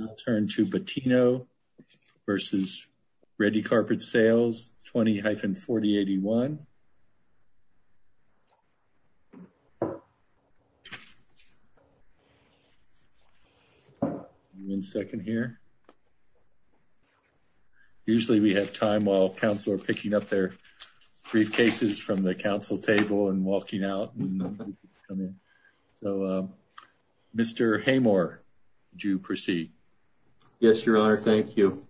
I'll turn to Patino versus Redi-Carpet Sales 20-4081. One second here. Usually we have time while council are picking up their briefcases from the council table and Yes, your honor. Thank you.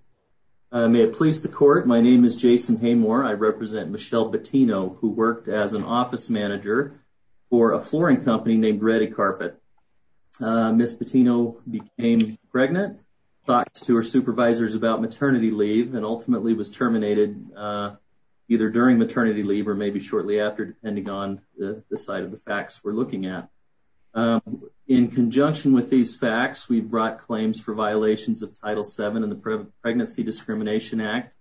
May it please the court. My name is Jason Haymore. I represent Michelle Patino, who worked as an office manager for a flooring company named Redi-Carpet. Miss Patino became pregnant, talked to her supervisors about maternity leave, and ultimately was terminated either during maternity leave or maybe shortly after, depending on the side of the facts we're looking at. In conjunction with these facts, we brought claims for violations of Title VII and the Pregnancy Discrimination Act,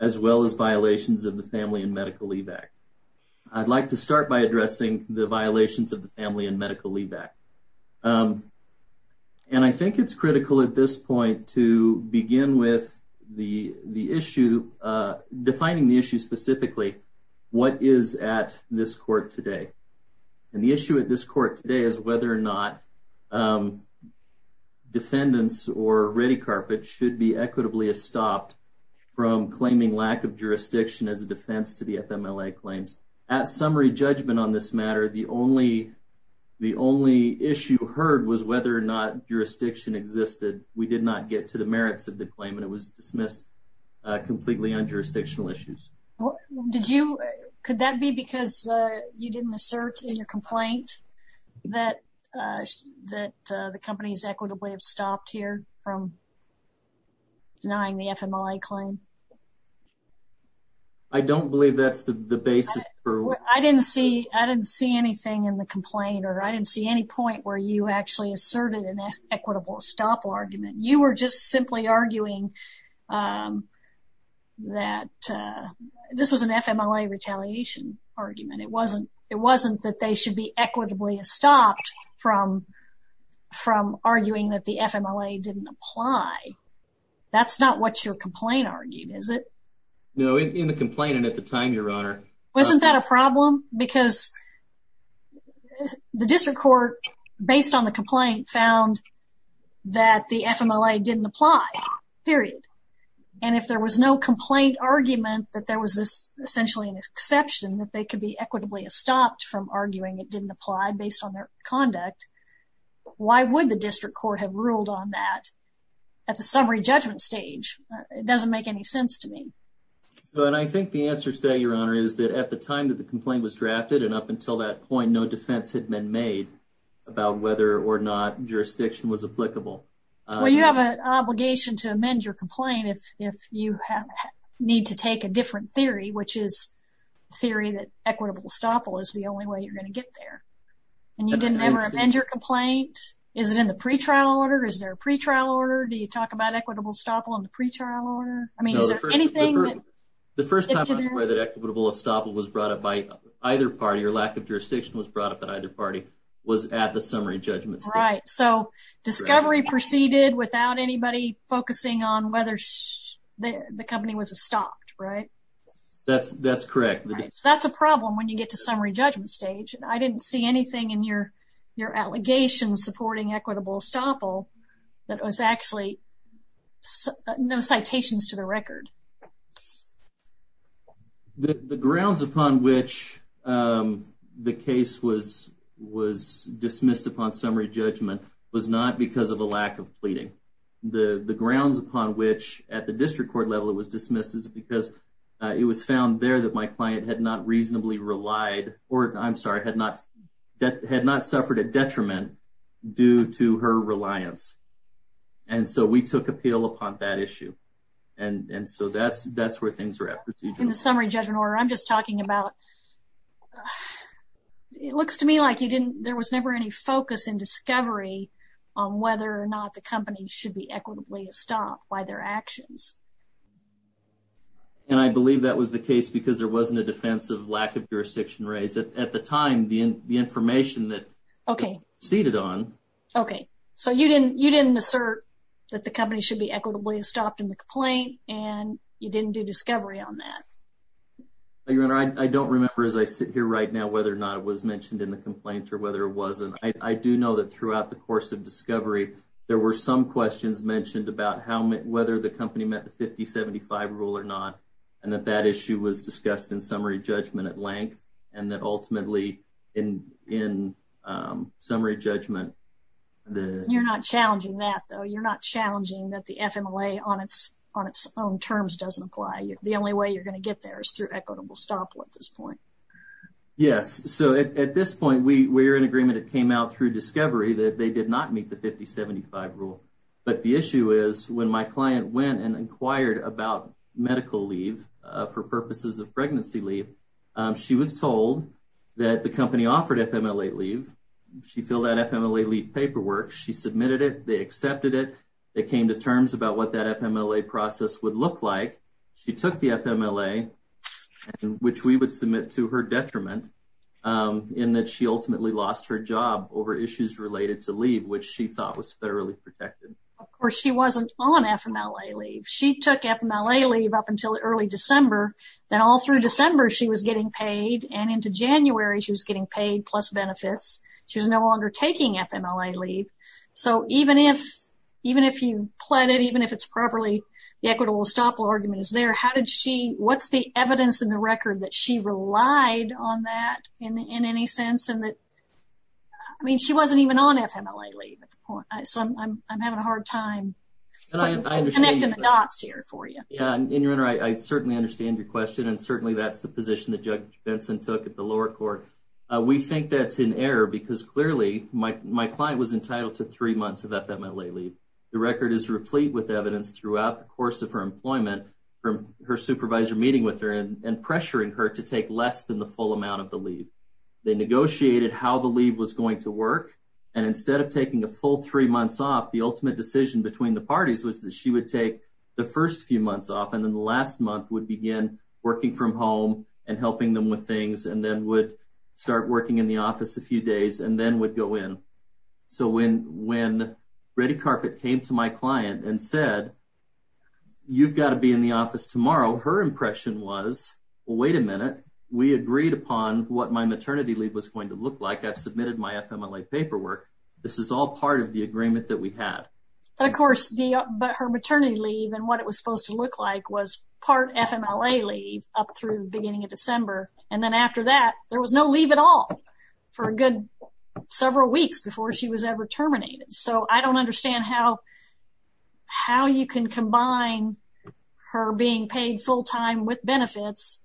as well as violations of the Family and Medical Leave Act. I'd like to start by addressing the violations of the Family and Medical Leave Act. And I think it's critical at this point to begin with the issue, defining the issue specifically, what is at this court today. And the issue at this court today is whether or not defendants or Redi-Carpet should be equitably estopped from claiming lack of jurisdiction as a defense to the FMLA claims. At summary judgment on this matter, the only issue heard was whether or not jurisdiction existed. We did not get to the merits of the claim and it was dismissed completely on jurisdictional issues. Could that be because you didn't assert in your from denying the FMLA claim? I don't believe that's the basis. I didn't see anything in the complaint or I didn't see any point where you actually asserted an equitable estoppel argument. You were just simply arguing that this was an FMLA retaliation argument. It wasn't that they should be equitably estopped from arguing that the FMLA didn't apply. That's not what your complaint argued, is it? No, in the complaint and at the time, Your Honor. Wasn't that a problem? Because the district court, based on the complaint, found that the FMLA didn't apply, period. And if there was no complaint argument that there was essentially an exception that could be equitably estopped from arguing it didn't apply based on their conduct, why would the district court have ruled on that at the summary judgment stage? It doesn't make any sense to me. And I think the answer to that, Your Honor, is that at the time that the complaint was drafted and up until that point, no defense had been made about whether or not jurisdiction was applicable. Well, you have an obligation to amend your complaint if you need to take a equitable estoppel is the only way you're going to get there. And you didn't ever amend your complaint. Is it in the pretrial order? Is there a pretrial order? Do you talk about equitable estoppel in the pretrial order? I mean, is there anything? The first time that equitable estoppel was brought up by either party or lack of jurisdiction was brought up at either party was at the summary judgment. Right. So Discovery proceeded without anybody focusing on whether the company was estopped, right? That's correct. That's a problem when you get to summary judgment stage. I didn't see anything in your allegations supporting equitable estoppel that was actually no citations to the record. The grounds upon which the case was dismissed upon summary judgment was not because of a lack of pleading. The grounds upon which at the district court level, it was dismissed as because it was found there that my client had not reasonably relied or I'm sorry, had not suffered a detriment due to her reliance. And so we took appeal upon that issue. And so that's where things are at. In the summary judgment order, I'm just talking about uh, it looks to me like you didn't, there was never any focus in Discovery on whether or not the company should be equitably estopped by their actions. And I believe that was the case because there wasn't a defensive lack of jurisdiction raised at the time. The information that okay, seated on. Okay. So you didn't, you didn't assert that the company should be equitably estopped in the complaint and you didn't do Discovery on that. Your Honor, I don't remember as I sit here right now, whether or not it was mentioned in the complaint or whether it wasn't. I do know that throughout the course of Discovery, there were some questions mentioned about how, whether the company met the 50-75 rule or not. And that that issue was discussed in summary judgment at length and that ultimately in, in um, summary judgment. You're not challenging that though. You're not challenging that the equitable stop at this point. Yes. So at this point we were in agreement. It came out through Discovery that they did not meet the 50-75 rule. But the issue is when my client went and inquired about medical leave, uh, for purposes of pregnancy leave, um, she was told that the company offered FMLA leave. She filled out FMLA paperwork. She submitted it. They accepted it. They came to which we would submit to her detriment, um, in that she ultimately lost her job over issues related to leave, which she thought was federally protected. Of course she wasn't on FMLA leave. She took FMLA leave up until early December. Then all through December she was getting paid and into January she was getting paid plus benefits. She was no longer taking FMLA leave. So even if, even if you pled it, even if it's properly, the equitable estoppel argument is how did she, what's the evidence in the record that she relied on that in any sense? And that, I mean, she wasn't even on FMLA leave at the point. So I'm, I'm, I'm having a hard time connecting the dots here for you. Yeah. And your Honor, I certainly understand your question and certainly that's the position that Judge Benson took at the lower court. Uh, we think that's in error because clearly my, my client was entitled to three months of FMLA leave. The record is throughout the course of her employment from her supervisor meeting with her and pressuring her to take less than the full amount of the leave. They negotiated how the leave was going to work. And instead of taking a full three months off, the ultimate decision between the parties was that she would take the first few months off. And then the last month would begin working from home and helping them with things and then would start working in the office a few days and then would go in. So when, when Ready Carpet came to my client and said, you've got to be in the office tomorrow, her impression was, well, wait a minute. We agreed upon what my maternity leave was going to look like. I've submitted my FMLA paperwork. This is all part of the agreement that we had. And of course the, but her maternity leave and what it was supposed to look like was part FMLA leave up through the beginning of December. And then after that, there was no weeks before she was ever terminated. So I don't understand how, how you can combine her being paid full time with benefits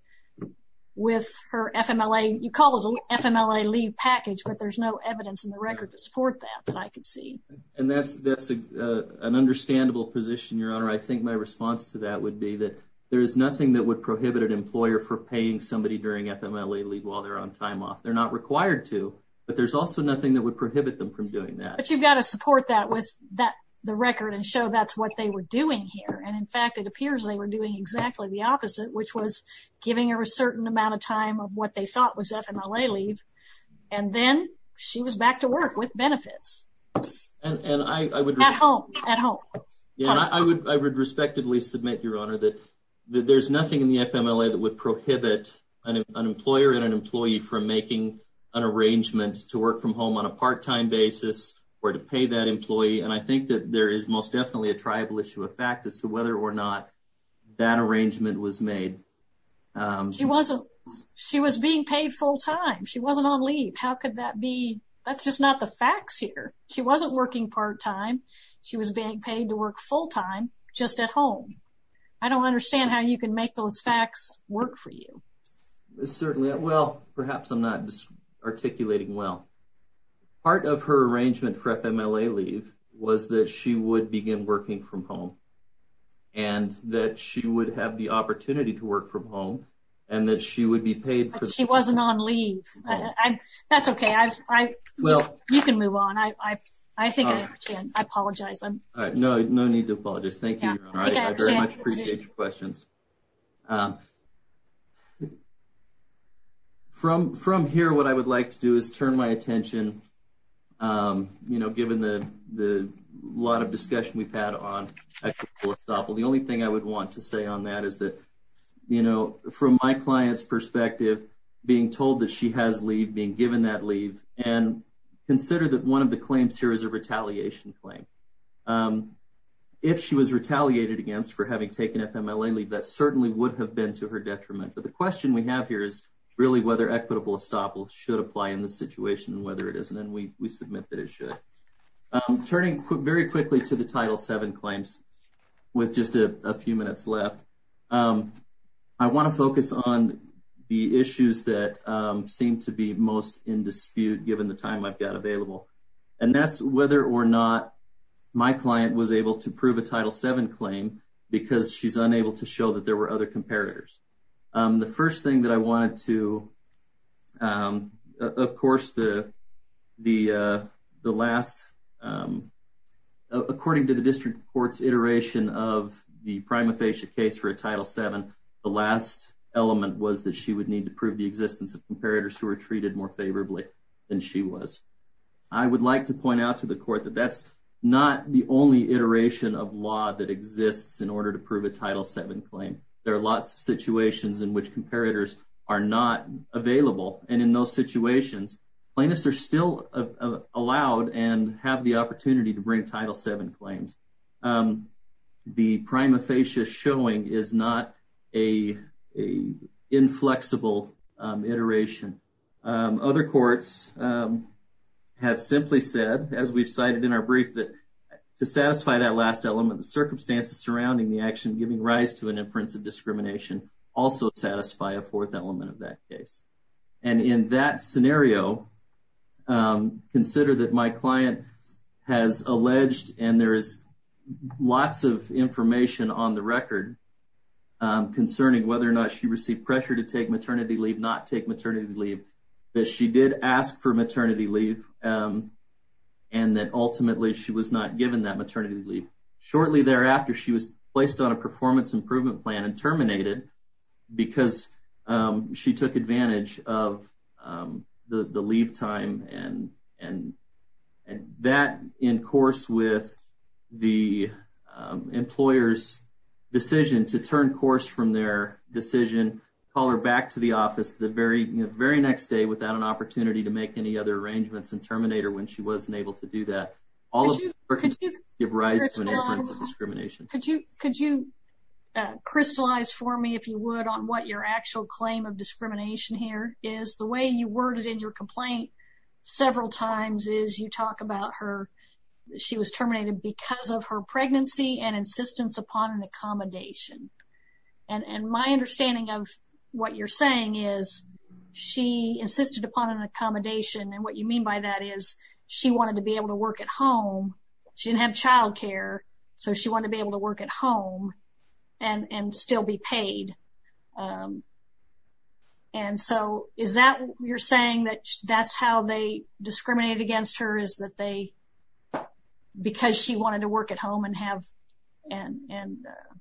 with her FMLA. You call it an FMLA leave package, but there's no evidence in the record to support that, that I could see. And that's, that's a, uh, an understandable position, your honor. I think my response to that would be that there is nothing that would prohibit an employer for paying somebody during FMLA leave while they're on time off. They're not required to, but there's also nothing that would prohibit them from doing that. But you've got to support that with that, the record and show that's what they were doing here. And in fact, it appears they were doing exactly the opposite, which was giving her a certain amount of time of what they thought was FMLA leave. And then she was back to work with benefits. And, and I, I would, at home, at home, I would, I would respectively submit your honor that there's nothing in the FMLA that would prohibit an employer and an employee from making an arrangement to work from home on part-time basis or to pay that employee. And I think that there is most definitely a tribal issue of fact as to whether or not that arrangement was made. Um, she wasn't, she was being paid full time. She wasn't on leave. How could that be? That's just not the facts here. She wasn't working part-time. She was being paid to work full-time just at home. I don't understand how you can make those facts work for you. Certainly. Well, perhaps I'm not articulating well. Part of her arrangement for FMLA leave was that she would begin working from home and that she would have the opportunity to work from home and that she would be paid. She wasn't on leave. That's okay. I, I, well, you can move on. I, I, I think I, I apologize. No, no need to apologize. Thank you very much. Appreciate your questions. Um, from, from here, what I would like to do is turn my attention. Um, you know, given the, the lot of discussion we've had on actually, the only thing I would want to say on that is that, you know, from my client's perspective, being told that she has leave being given that leave and consider that one of the claims here is a retaliation claim. Um, if she was retaliated against for having taken FMLA leave, that certainly would have been to her detriment. But the question we have here is really whether equitable estoppel should apply in this situation and whether it isn't. And we, we submit that it should, um, turning very quickly to the title seven claims with just a few minutes left. Um, I want to focus on the issues that, um, seem to be most in dispute given the time I've got available and that's whether or not my client was able to because she's unable to show that there were other comparators. Um, the first thing that I wanted to, um, of course the, the, uh, the last, um, according to the district court's iteration of the prima facie case for a title seven, the last element was that she would need to prove the existence of comparators who were treated more favorably than she was. I would like to point out to the court that that's not the only iteration of law that exists in order to prove a title seven claim. There are lots of situations in which comparators are not available. And in those situations, plaintiffs are still allowed and have the opportunity to bring title seven claims. Um, the prima facie showing is not a, a inflexible, um, iteration. Um, other courts, um, have simply said, as we've cited in our brief, that to satisfy that last element, the circumstances surrounding the action giving rise to an inference of discrimination also satisfy a fourth element of that case. And in that scenario, um, consider that my client has alleged, and there is lots of information on the record, um, concerning whether or not she received pressure to take maternity leave, not take maternity leave, that she did ask for maternity leave, um, and that ultimately she was not given that maternity leave. Shortly thereafter, she was placed on a performance improvement plan and terminated because, um, she took advantage of, um, the, the leave time and, and, and that in course with the, um, employer's decision to turn course from their decision, call her back to the office the very, you know, very next day without an opportunity to make any other arrangements and terminate her when she wasn't able to do that. All of that gives rise to an inference of discrimination. Could you, could you, uh, crystallize for me, if you would, on what your actual claim of discrimination here is. The way you worded in your complaint several times is you talk about her, she was terminated because of her pregnancy and insistence upon an accommodation. And, and my understanding of what you're saying is she insisted upon an accommodation. And what you mean by that is she wanted to be able to work at home. She didn't have childcare. So she wanted to be able to work at home and, and still be paid. Um, and so is that, you're saying that that's how they discriminated against her is that they, because she wanted to work at home and have, and, and, uh,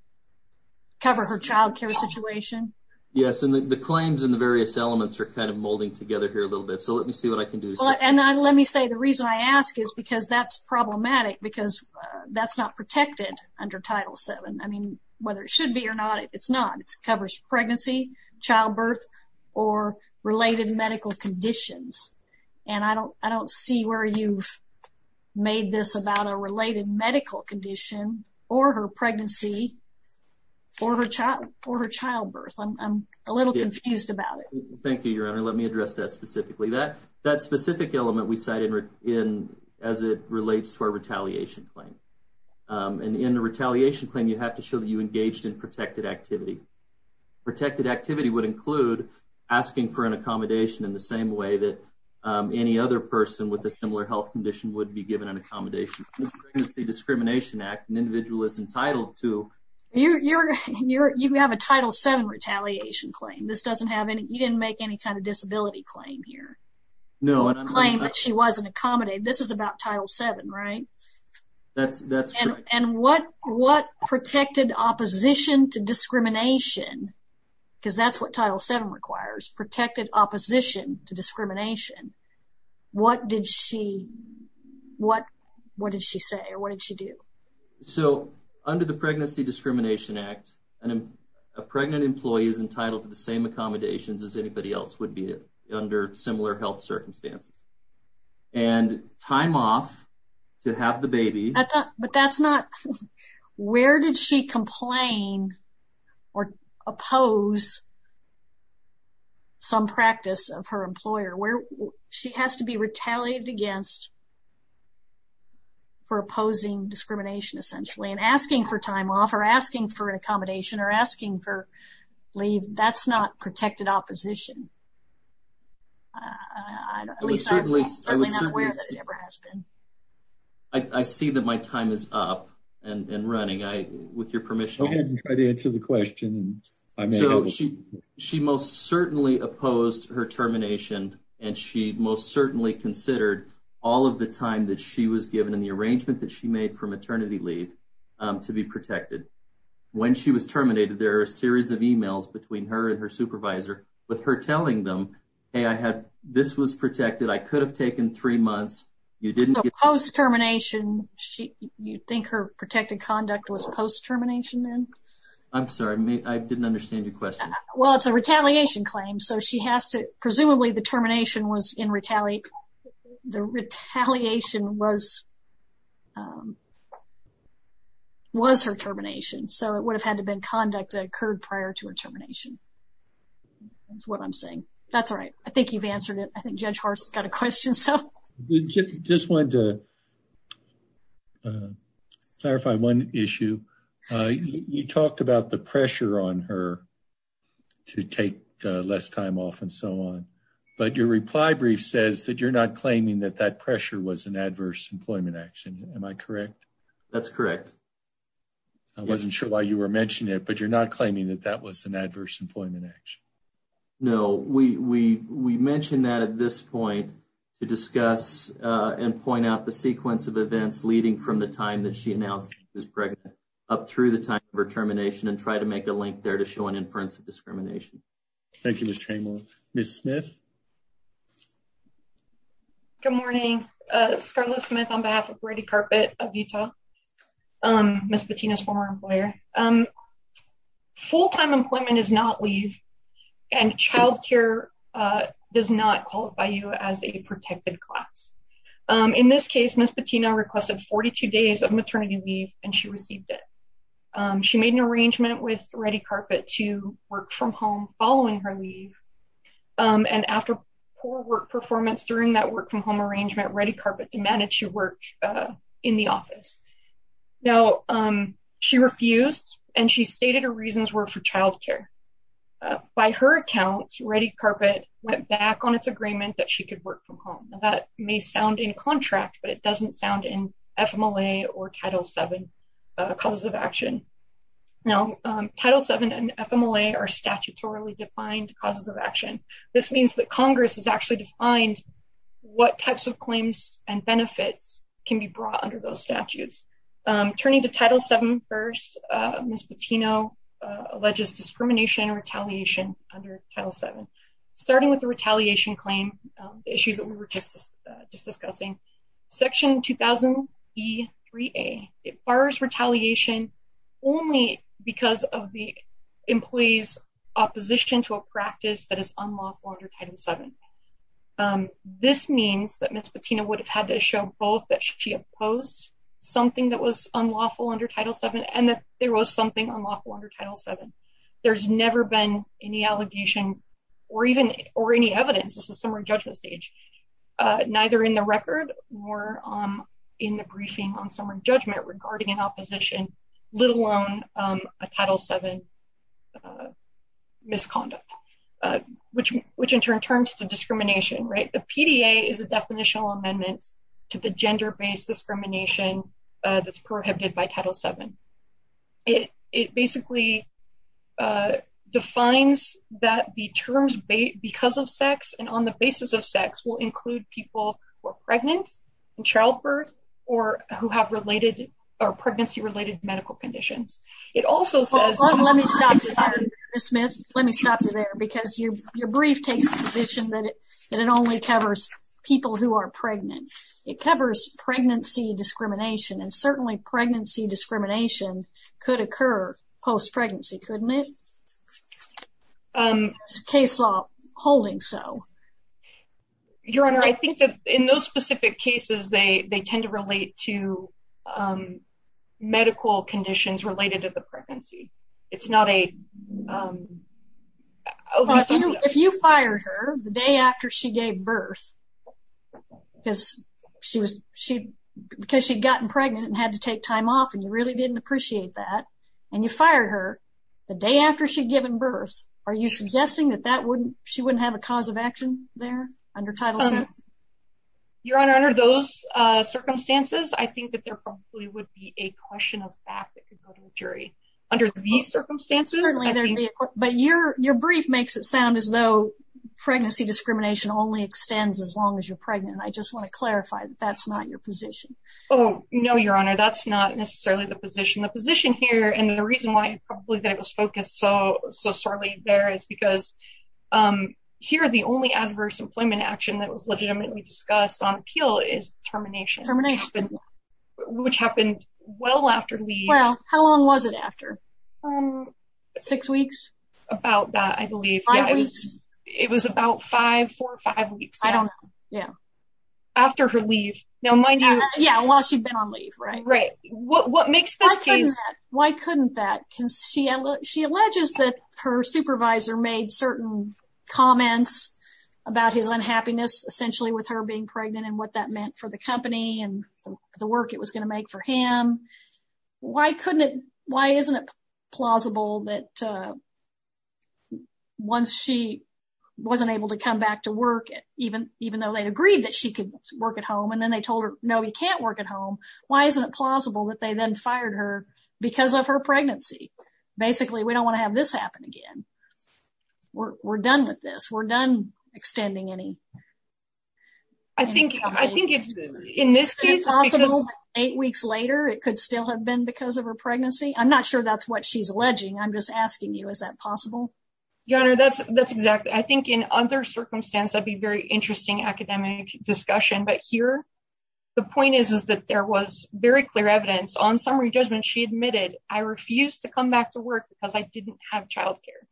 cover her childcare situation? Yes. And the claims and the various elements are kind of molding together here a little bit. So let me see what I can do. And I, let me say, the reason I ask is because that's problematic because that's not protected under title seven. I mean, whether it should be or not, it's not, it's covers pregnancy, childbirth or related medical conditions. And I don't, I don't see where you've made this about a related medical condition or her pregnancy or her child or her a little confused about it. Thank you, your honor. Let me address that specifically that that specific element we cited in, as it relates to our retaliation claim. And in the retaliation claim, you have to show that you engaged in protected activity, protected activity would include asking for an accommodation in the same way that, um, any other person with a similar health condition would be given an accommodation. It's the discrimination act and individual is entitled to. You're, you're, you're, you have a title seven retaliation claim. This doesn't have any, you didn't make any kind of disability claim here. No claim that she wasn't accommodated. This is about title seven, right? That's, that's right. And what, what protected opposition to discrimination? Cause that's what title seven requires protected opposition to So under the pregnancy discrimination act and a pregnant employee is entitled to the same accommodations as anybody else would be under similar health circumstances and time off to have the baby, but that's not, where did she complain or oppose some practice of her employer where she has to be retaliated against for opposing discrimination, essentially, and asking for time off or asking for an accommodation or asking for leave. That's not protected opposition. At least certainly not aware that it ever has been. I see that my time is up and running. I, with your permission, I didn't try to answer the question. So she, she most certainly opposed her termination and she most certainly considered all of the time that she was given in the arrangement that she made for maternity leave to be protected when she was terminated. There are a series of emails between her and her supervisor with her telling them, Hey, I had, this was protected. I could have taken three months. You didn't get post termination. She, you think her protected conduct was post termination then? I'm sorry, I didn't understand your question. Well, it's a retaliation claim. So she has to, presumably the termination was in retaliation. The retaliation was, was her termination. So it would have had to been conduct that occurred prior to her termination. That's what I'm saying. That's all right. I think you've answered it. I think Judge Hart's got a question. So just wanted to clarify one issue. You talked about the pressure on her to take less time off and so on, but your reply brief says that you're not claiming that that pressure was an adverse employment action. Am I correct? That's correct. I wasn't sure why you were mentioning it, but you're not claiming that that was an adverse employment action. No, we, we, we mentioned that at this point to discuss and point out the sequence of events leading from the time that she announced she was pregnant up through the time of her discrimination. Thank you, Ms. Chamberlain. Ms. Smith. Good morning. Scarlett Smith on behalf of Ready Carpet of Utah. Ms. Patina's former employer. Full-time employment is not leave and child care does not qualify you as a protected class. In this case, Ms. Patina requested 42 days of maternity leave and she received it. She made an arrangement with Ready Carpet to work from home following her leave and after poor work performance during that work from home arrangement, Ready Carpet demanded she work in the office. Now she refused and she stated her reasons were for child care. By her account, Ready Carpet went back on its agreement that she could work from home. That may sound in contract, but it Now, Title VII and FMLA are statutorily defined causes of action. This means that Congress has actually defined what types of claims and benefits can be brought under those statutes. Turning to Title VII first, Ms. Patina alleges discrimination and retaliation under Title VII. Starting with the retaliation claim, the issues that we were just, just discussing, Section 2000E3A requires retaliation only because of the employee's opposition to a practice that is unlawful under Title VII. This means that Ms. Patina would have had to show both that she opposed something that was unlawful under Title VII and that there was something unlawful under Title VII. There's never been any allegation or even or any evidence, this is summary judgment stage, neither in the record or in the briefing on summary judgment regarding an opposition, let alone a Title VII misconduct, which in turn turns to discrimination, right? The PDA is a definitional amendment to the gender-based discrimination that's prohibited by Title VII. It, it basically defines that the terms because of sex and on the basis of sex will include people who are pregnant and childbirth or who have related or pregnancy-related medical conditions. It also says- Hold on, let me stop you there, Ms. Smith. Let me stop you there because your, your brief takes the position that it, that it only covers people who are pregnant. It covers pregnancy discrimination and certainly pregnancy discrimination could occur post-pregnancy, couldn't it? There's a case law holding so. Your Honor, I think that in those specific cases, they, they tend to relate to medical conditions related to the pregnancy. It's not a- If you fired her the day after she gave birth because she was, she, because she'd gotten pregnant and had to take time off and you really didn't appreciate that and you fired her the day after she'd given birth, are you suggesting that that wouldn't, she wouldn't have a cause of action there under Title VII? Your Honor, under those circumstances, I think that there probably would be a question of fact that could go to a jury. Under these circumstances- But your, your brief makes it sound as though pregnancy discrimination only extends as long as you're pregnant. I just want to clarify that that's not your position. Oh, no, Your Honor. That's not necessarily the position. The position here and the reason why probably that it was focused so, so sorely there is because here the only adverse employment action that was legitimately discussed on appeal is termination. Termination. Which happened well after we- Well, how long was it after? Um. Six weeks? About that, I believe. Five weeks? It was about five, four, five weeks. I don't know. Yeah. After her leave. Now, mind you- Yeah, while she'd been on leave, right? Right. What, what makes this case- Why couldn't that? Can she, she alleges that her supervisor made certain comments about his unhappiness essentially with her being pregnant and what that meant for the company and the work it was going to make for him. Why couldn't it, why isn't it plausible that once she wasn't able to come back to work even, even though they'd agreed that she could work at home and then they told her, no, you can't work at home. Why isn't it plausible that they then fired her because of her pregnancy? Basically, we don't want to have this happen again. We're, we're done with this. We're done extending any- I think, I think it's, in this case- Eight weeks later, it could still have been because of her pregnancy. I'm not sure that's what she's alleging. I'm just asking you, is that possible? Your Honor, that's, that's exactly, I think in other circumstances, that'd be very interesting academic discussion. But here, the point is, is that there was very clear evidence on summary judgment. She admitted, I refused to come back to work because I didn't have childcare.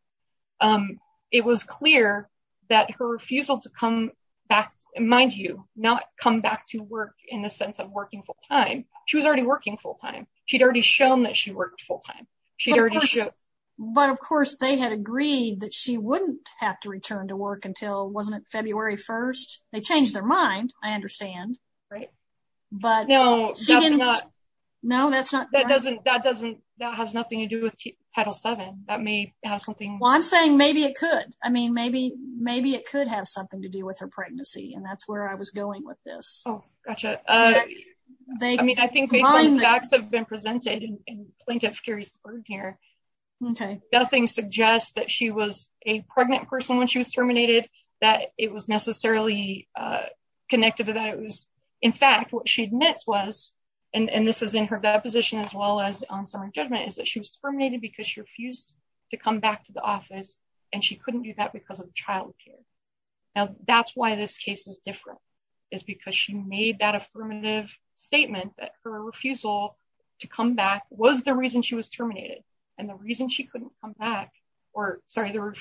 It was clear that her refusal to come back, mind you, not come back to work in the sense of working full-time. She was already working full-time. She'd already shown that she worked full-time. She'd already shown- But of course, they had agreed that she wouldn't have to return to work until, wasn't it February 1st? They changed their mind, I understand, right? But- No, that's not- No, that's not- That doesn't, that doesn't, that has nothing to do with Title VII. That may have something- Well, I'm saying maybe it could. I mean, maybe, maybe it could have something to do with her pregnancy and that's where I was going with this. Gotcha. I mean, I think based on the facts that have been presented and plaintiff carries the burden here, nothing suggests that she was a pregnant person when she was terminated, that it was necessarily connected to that. It was, in fact, what she admits was, and this is in her deposition as well as on summary judgment, is that she was terminated because she refused to come back to the office and she couldn't do that because of childcare. Now, that's why this case is different, is because she made that affirmative statement that her refusal to come back was the reason she was terminated and the reason she couldn't come back, or sorry, her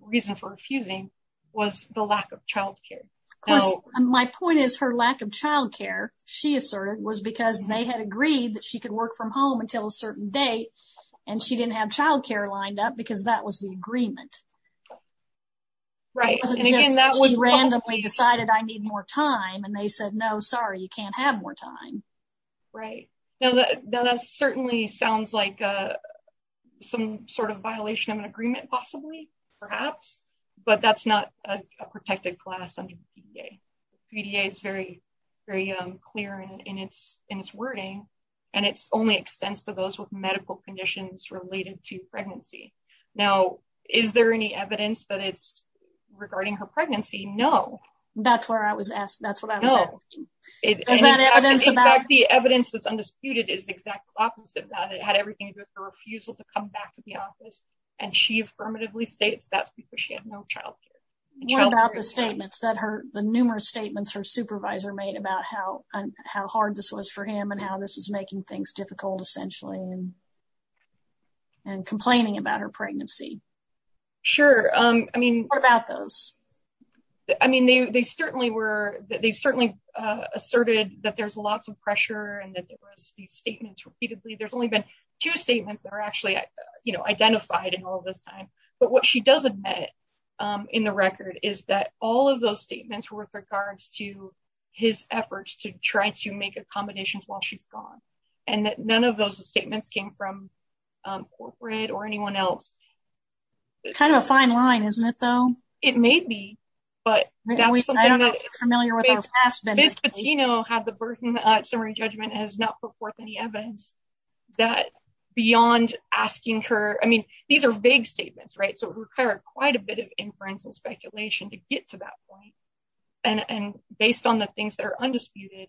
reason for refusing was the lack of childcare. Of course, my point is her lack of childcare, she asserted, was because they had agreed that she could work from home until a certain date and she didn't have childcare lined up because that was the agreement. She randomly decided I need more time and they said, no, sorry, you can't have more time. Right. Now, that certainly sounds like some sort of violation of an agreement possibly, perhaps, but that's not a protected class under the PDA. The PDA is very clear in its wording and it only extends to those with medical conditions related to pregnancy. Now, is there any evidence that it's regarding her pregnancy? No. That's what I was asking. No. Is that evidence about- The evidence that's undisputed is exactly opposite of that. It had everything to do with her refusal to come back to the office and she affirmatively states that's because she had no childcare. What about the statements, the numerous statements her supervisor made about how hard this was for him and how this was making things difficult, essentially, and complaining about her pregnancy? Sure. What about those? They certainly asserted that there's lots of pressure and that there was these statements repeatedly. There's only been two statements that are actually identified in all of this time, but what she does admit in the record is that all of statements were with regards to his efforts to try to make accommodations while she's gone, and that none of those statements came from corporate or anyone else. Kind of a fine line, isn't it, though? It may be, but that's something that- I don't know if you're familiar with our past- Ms. Patino had the burden of summary judgment and has not put forth any evidence that beyond asking her- I mean, these are vague statements, so it required quite a bit of inference and speculation to get to that point, and based on the things that are undisputed,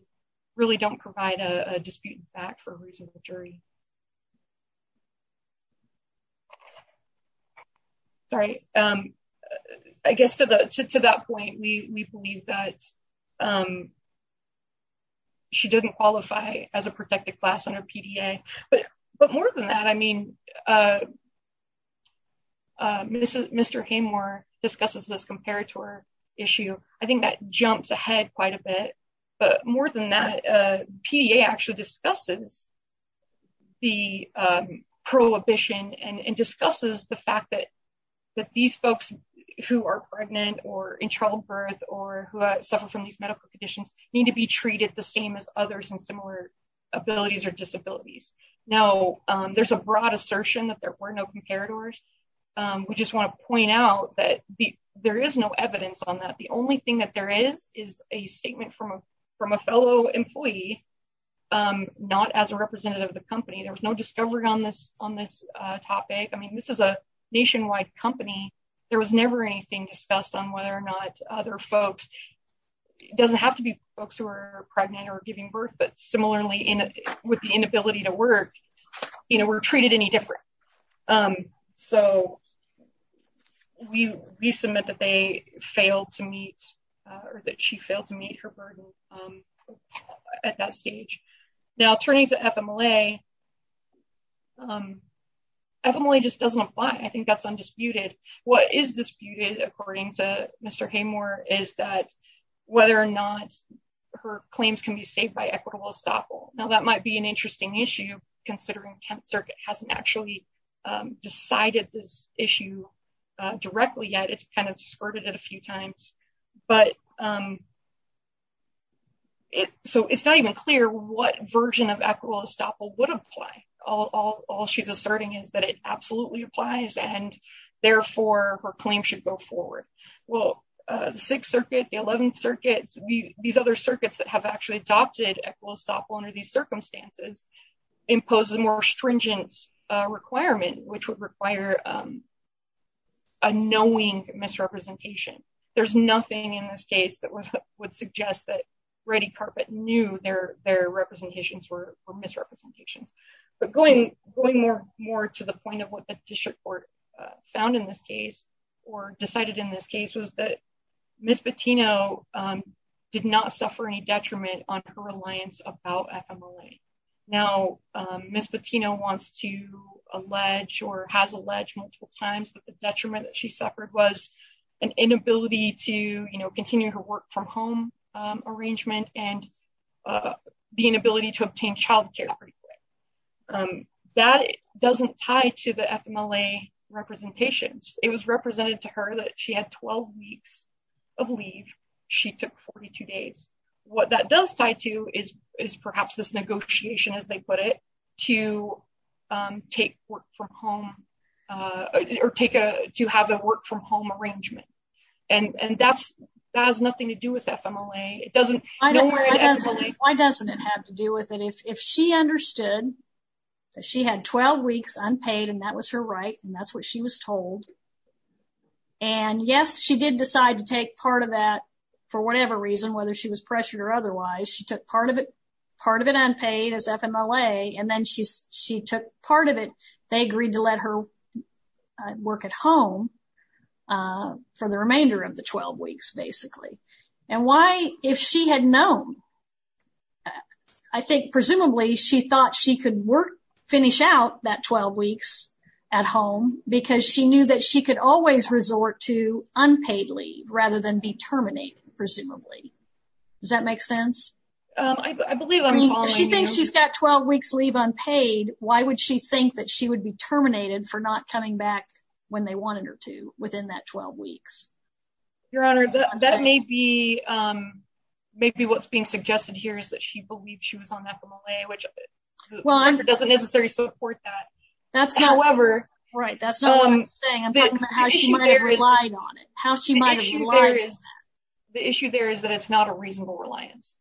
really don't provide a disputed fact for a reasonable jury. Sorry. I guess to that point, we believe that she didn't qualify as a protected class under PDA, but more than that, I mean, Mr. Haymore discusses this comparator issue. I think that jumps ahead quite a bit, but more than that, PDA actually discusses the prohibition and discusses the fact that these folks who are pregnant or in childbirth or who suffer from these medical conditions need to be treated the same as others and similar abilities or disabilities. Now, there's a broad assertion that there were comparators. We just want to point out that there is no evidence on that. The only thing that there is is a statement from a fellow employee, not as a representative of the company. There was no discovery on this topic. I mean, this is a nationwide company. There was never anything discussed on whether or not other folks- it doesn't have to be folks who are pregnant or giving birth, but similarly, with the inability to work, you know, were treated any different. So, we submit that they failed to meet or that she failed to meet her burden at that stage. Now, turning to FMLA, FMLA just doesn't apply. I think that's undisputed. What is disputed, according to Mr. Haymore, is that whether or not her claims can be saved by equitable estoppel. Now, that might be an interesting issue, considering 10th Circuit hasn't actually decided this issue directly yet. It's kind of skirted it a few times, but so it's not even clear what version of equitable estoppel would apply. All she's asserting is that it absolutely applies, and therefore, her claim should go forward. Well, the 6th Circuit, the equitable estoppel under these circumstances, imposes a more stringent requirement, which would require a knowing misrepresentation. There's nothing in this case that would suggest that Ready Carpet knew their representations were misrepresentations, but going more to the point of what the district court found in this case, or decided in this case, was that Ms. Patino did not suffer any detriment on her reliance about FMLA. Now, Ms. Patino wants to allege, or has alleged multiple times, that the detriment that she suffered was an inability to continue her work-from-home arrangement, and the inability to obtain child care pretty quick. That doesn't tie to the FMLA representations. It was represented to her that she had 12 weeks of leave. She took 42 days. What that does tie to is perhaps this negotiation, as they put it, to have a work-from-home arrangement, and that has nothing to do with FMLA. Why doesn't it have to do with it? If she understood that she had 12 weeks unpaid, and that was her right, and that's what she was told, and yes, she did decide to take part of that for whatever reason, whether she was pressured or otherwise, she took part of it unpaid as FMLA, and then she took part of it. They agreed to let her work at home for the remainder of the 12 weeks, basically. And why, if she had known? I think, presumably, she thought she could finish out that 12 weeks at home because she knew that she could always resort to unpaid leave rather than be terminated, presumably. Does that make sense? I believe I'm following you. If she thinks she's got 12 weeks leave unpaid, why would she think that she would be terminated for not coming back when they wanted within that 12 weeks? Your Honor, that may be what's being suggested here, is that she believed she was on FMLA, which doesn't necessarily support that. That's not what I'm saying, I'm talking about how she might have relied on it. The issue there is that it's not a reasonable reliance.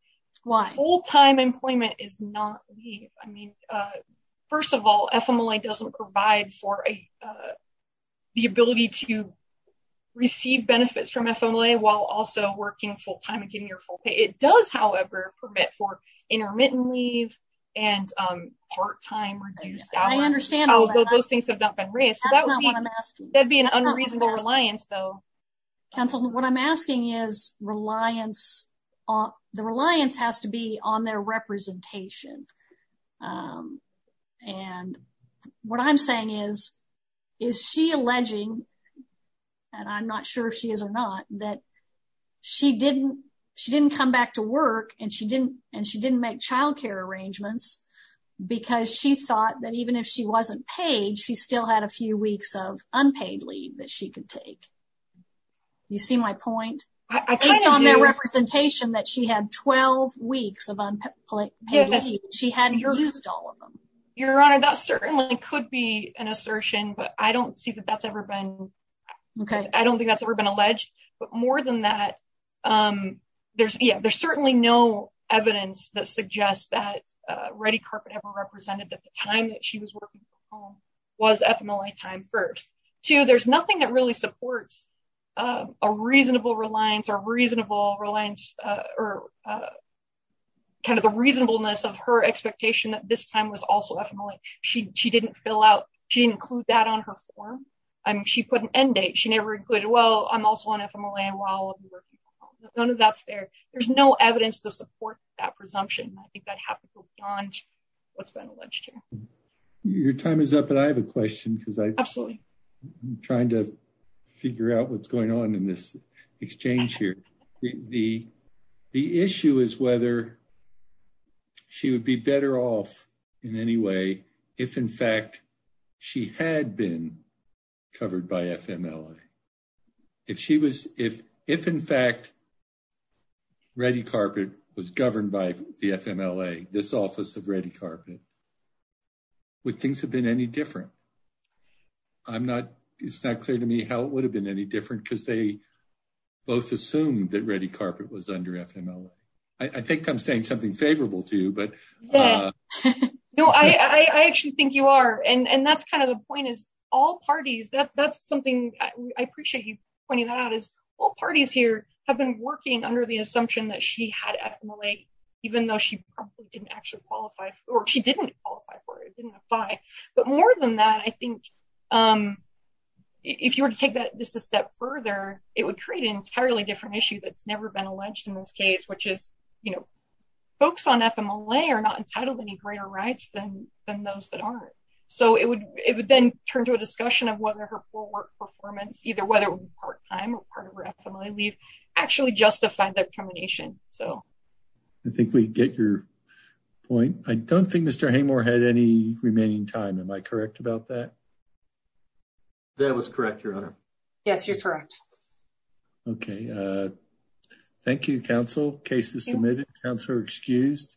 Why? Full-time employment is not leave. I mean, first of all, FMLA doesn't provide for the ability to receive benefits from FMLA while also working full-time and getting your full pay. It does, however, permit for intermittent leave and part-time reduced hours. I understand. Although those things have not been raised. That's not what I'm asking. That would be an unreasonable reliance, though. Counsel, what I'm asking is, the reliance has to be on their alleging, and I'm not sure if she is or not, that she didn't come back to work and she didn't make child care arrangements because she thought that even if she wasn't paid, she still had a few weeks of unpaid leave that she could take. You see my point? Based on their representation that she had 12 weeks of unpaid leave, she hadn't used all of them. Your Honor, that certainly could be an assertion, but I don't see that that's ever been. Okay. I don't think that's ever been alleged, but more than that, there's, yeah, there's certainly no evidence that suggests that ready carpet ever represented that the time that she was working from home was FMLA time first. Two, there's nothing that really supports a reasonable reliance or reasonable reliance or kind of the reasonableness of her expectation that this time was also FMLA. She didn't fill out, she didn't include that on her form. I mean, she put an end date. She never included, well, I'm also on FMLA while I'll be working from home. None of that's there. There's no evidence to support that presumption. I think that happens beyond what's been alleged here. Your time is up, but I have a question because I'm trying to figure out what's going on in this exchange here. The issue is whether she would be better off in any way if in fact she had been covered by FMLA. If she was, if in fact ready carpet was governed by the FMLA, this office of ready carpet, would things have been any different? I'm not, it's not clear to me how it would have been any different because they both assumed that ready carpet was under FMLA. I think I'm saying something favorable to you, but. No, I actually think you are. And that's kind of the point is all parties, that's something I appreciate you pointing that out is all parties here have been working under the assumption that she had FMLA, even though she probably didn't actually qualify or she didn't qualify for it, but more than that, I think if you were to take that just a step further, it would create an entirely different issue that's never been alleged in this case, which is, you know, folks on FMLA are not entitled to any greater rights than those that aren't. So it would, it would then turn to a discussion of whether her full work performance, either whether it would be part time or part of her FMLA leave actually justified that combination. So. I think we get your point. I don't think Mr. Haymore had any remaining time. Am I correct about that? That was correct, Your Honor. Yes, you're correct. Okay. Thank you, counsel. Case is submitted. Counselor excused.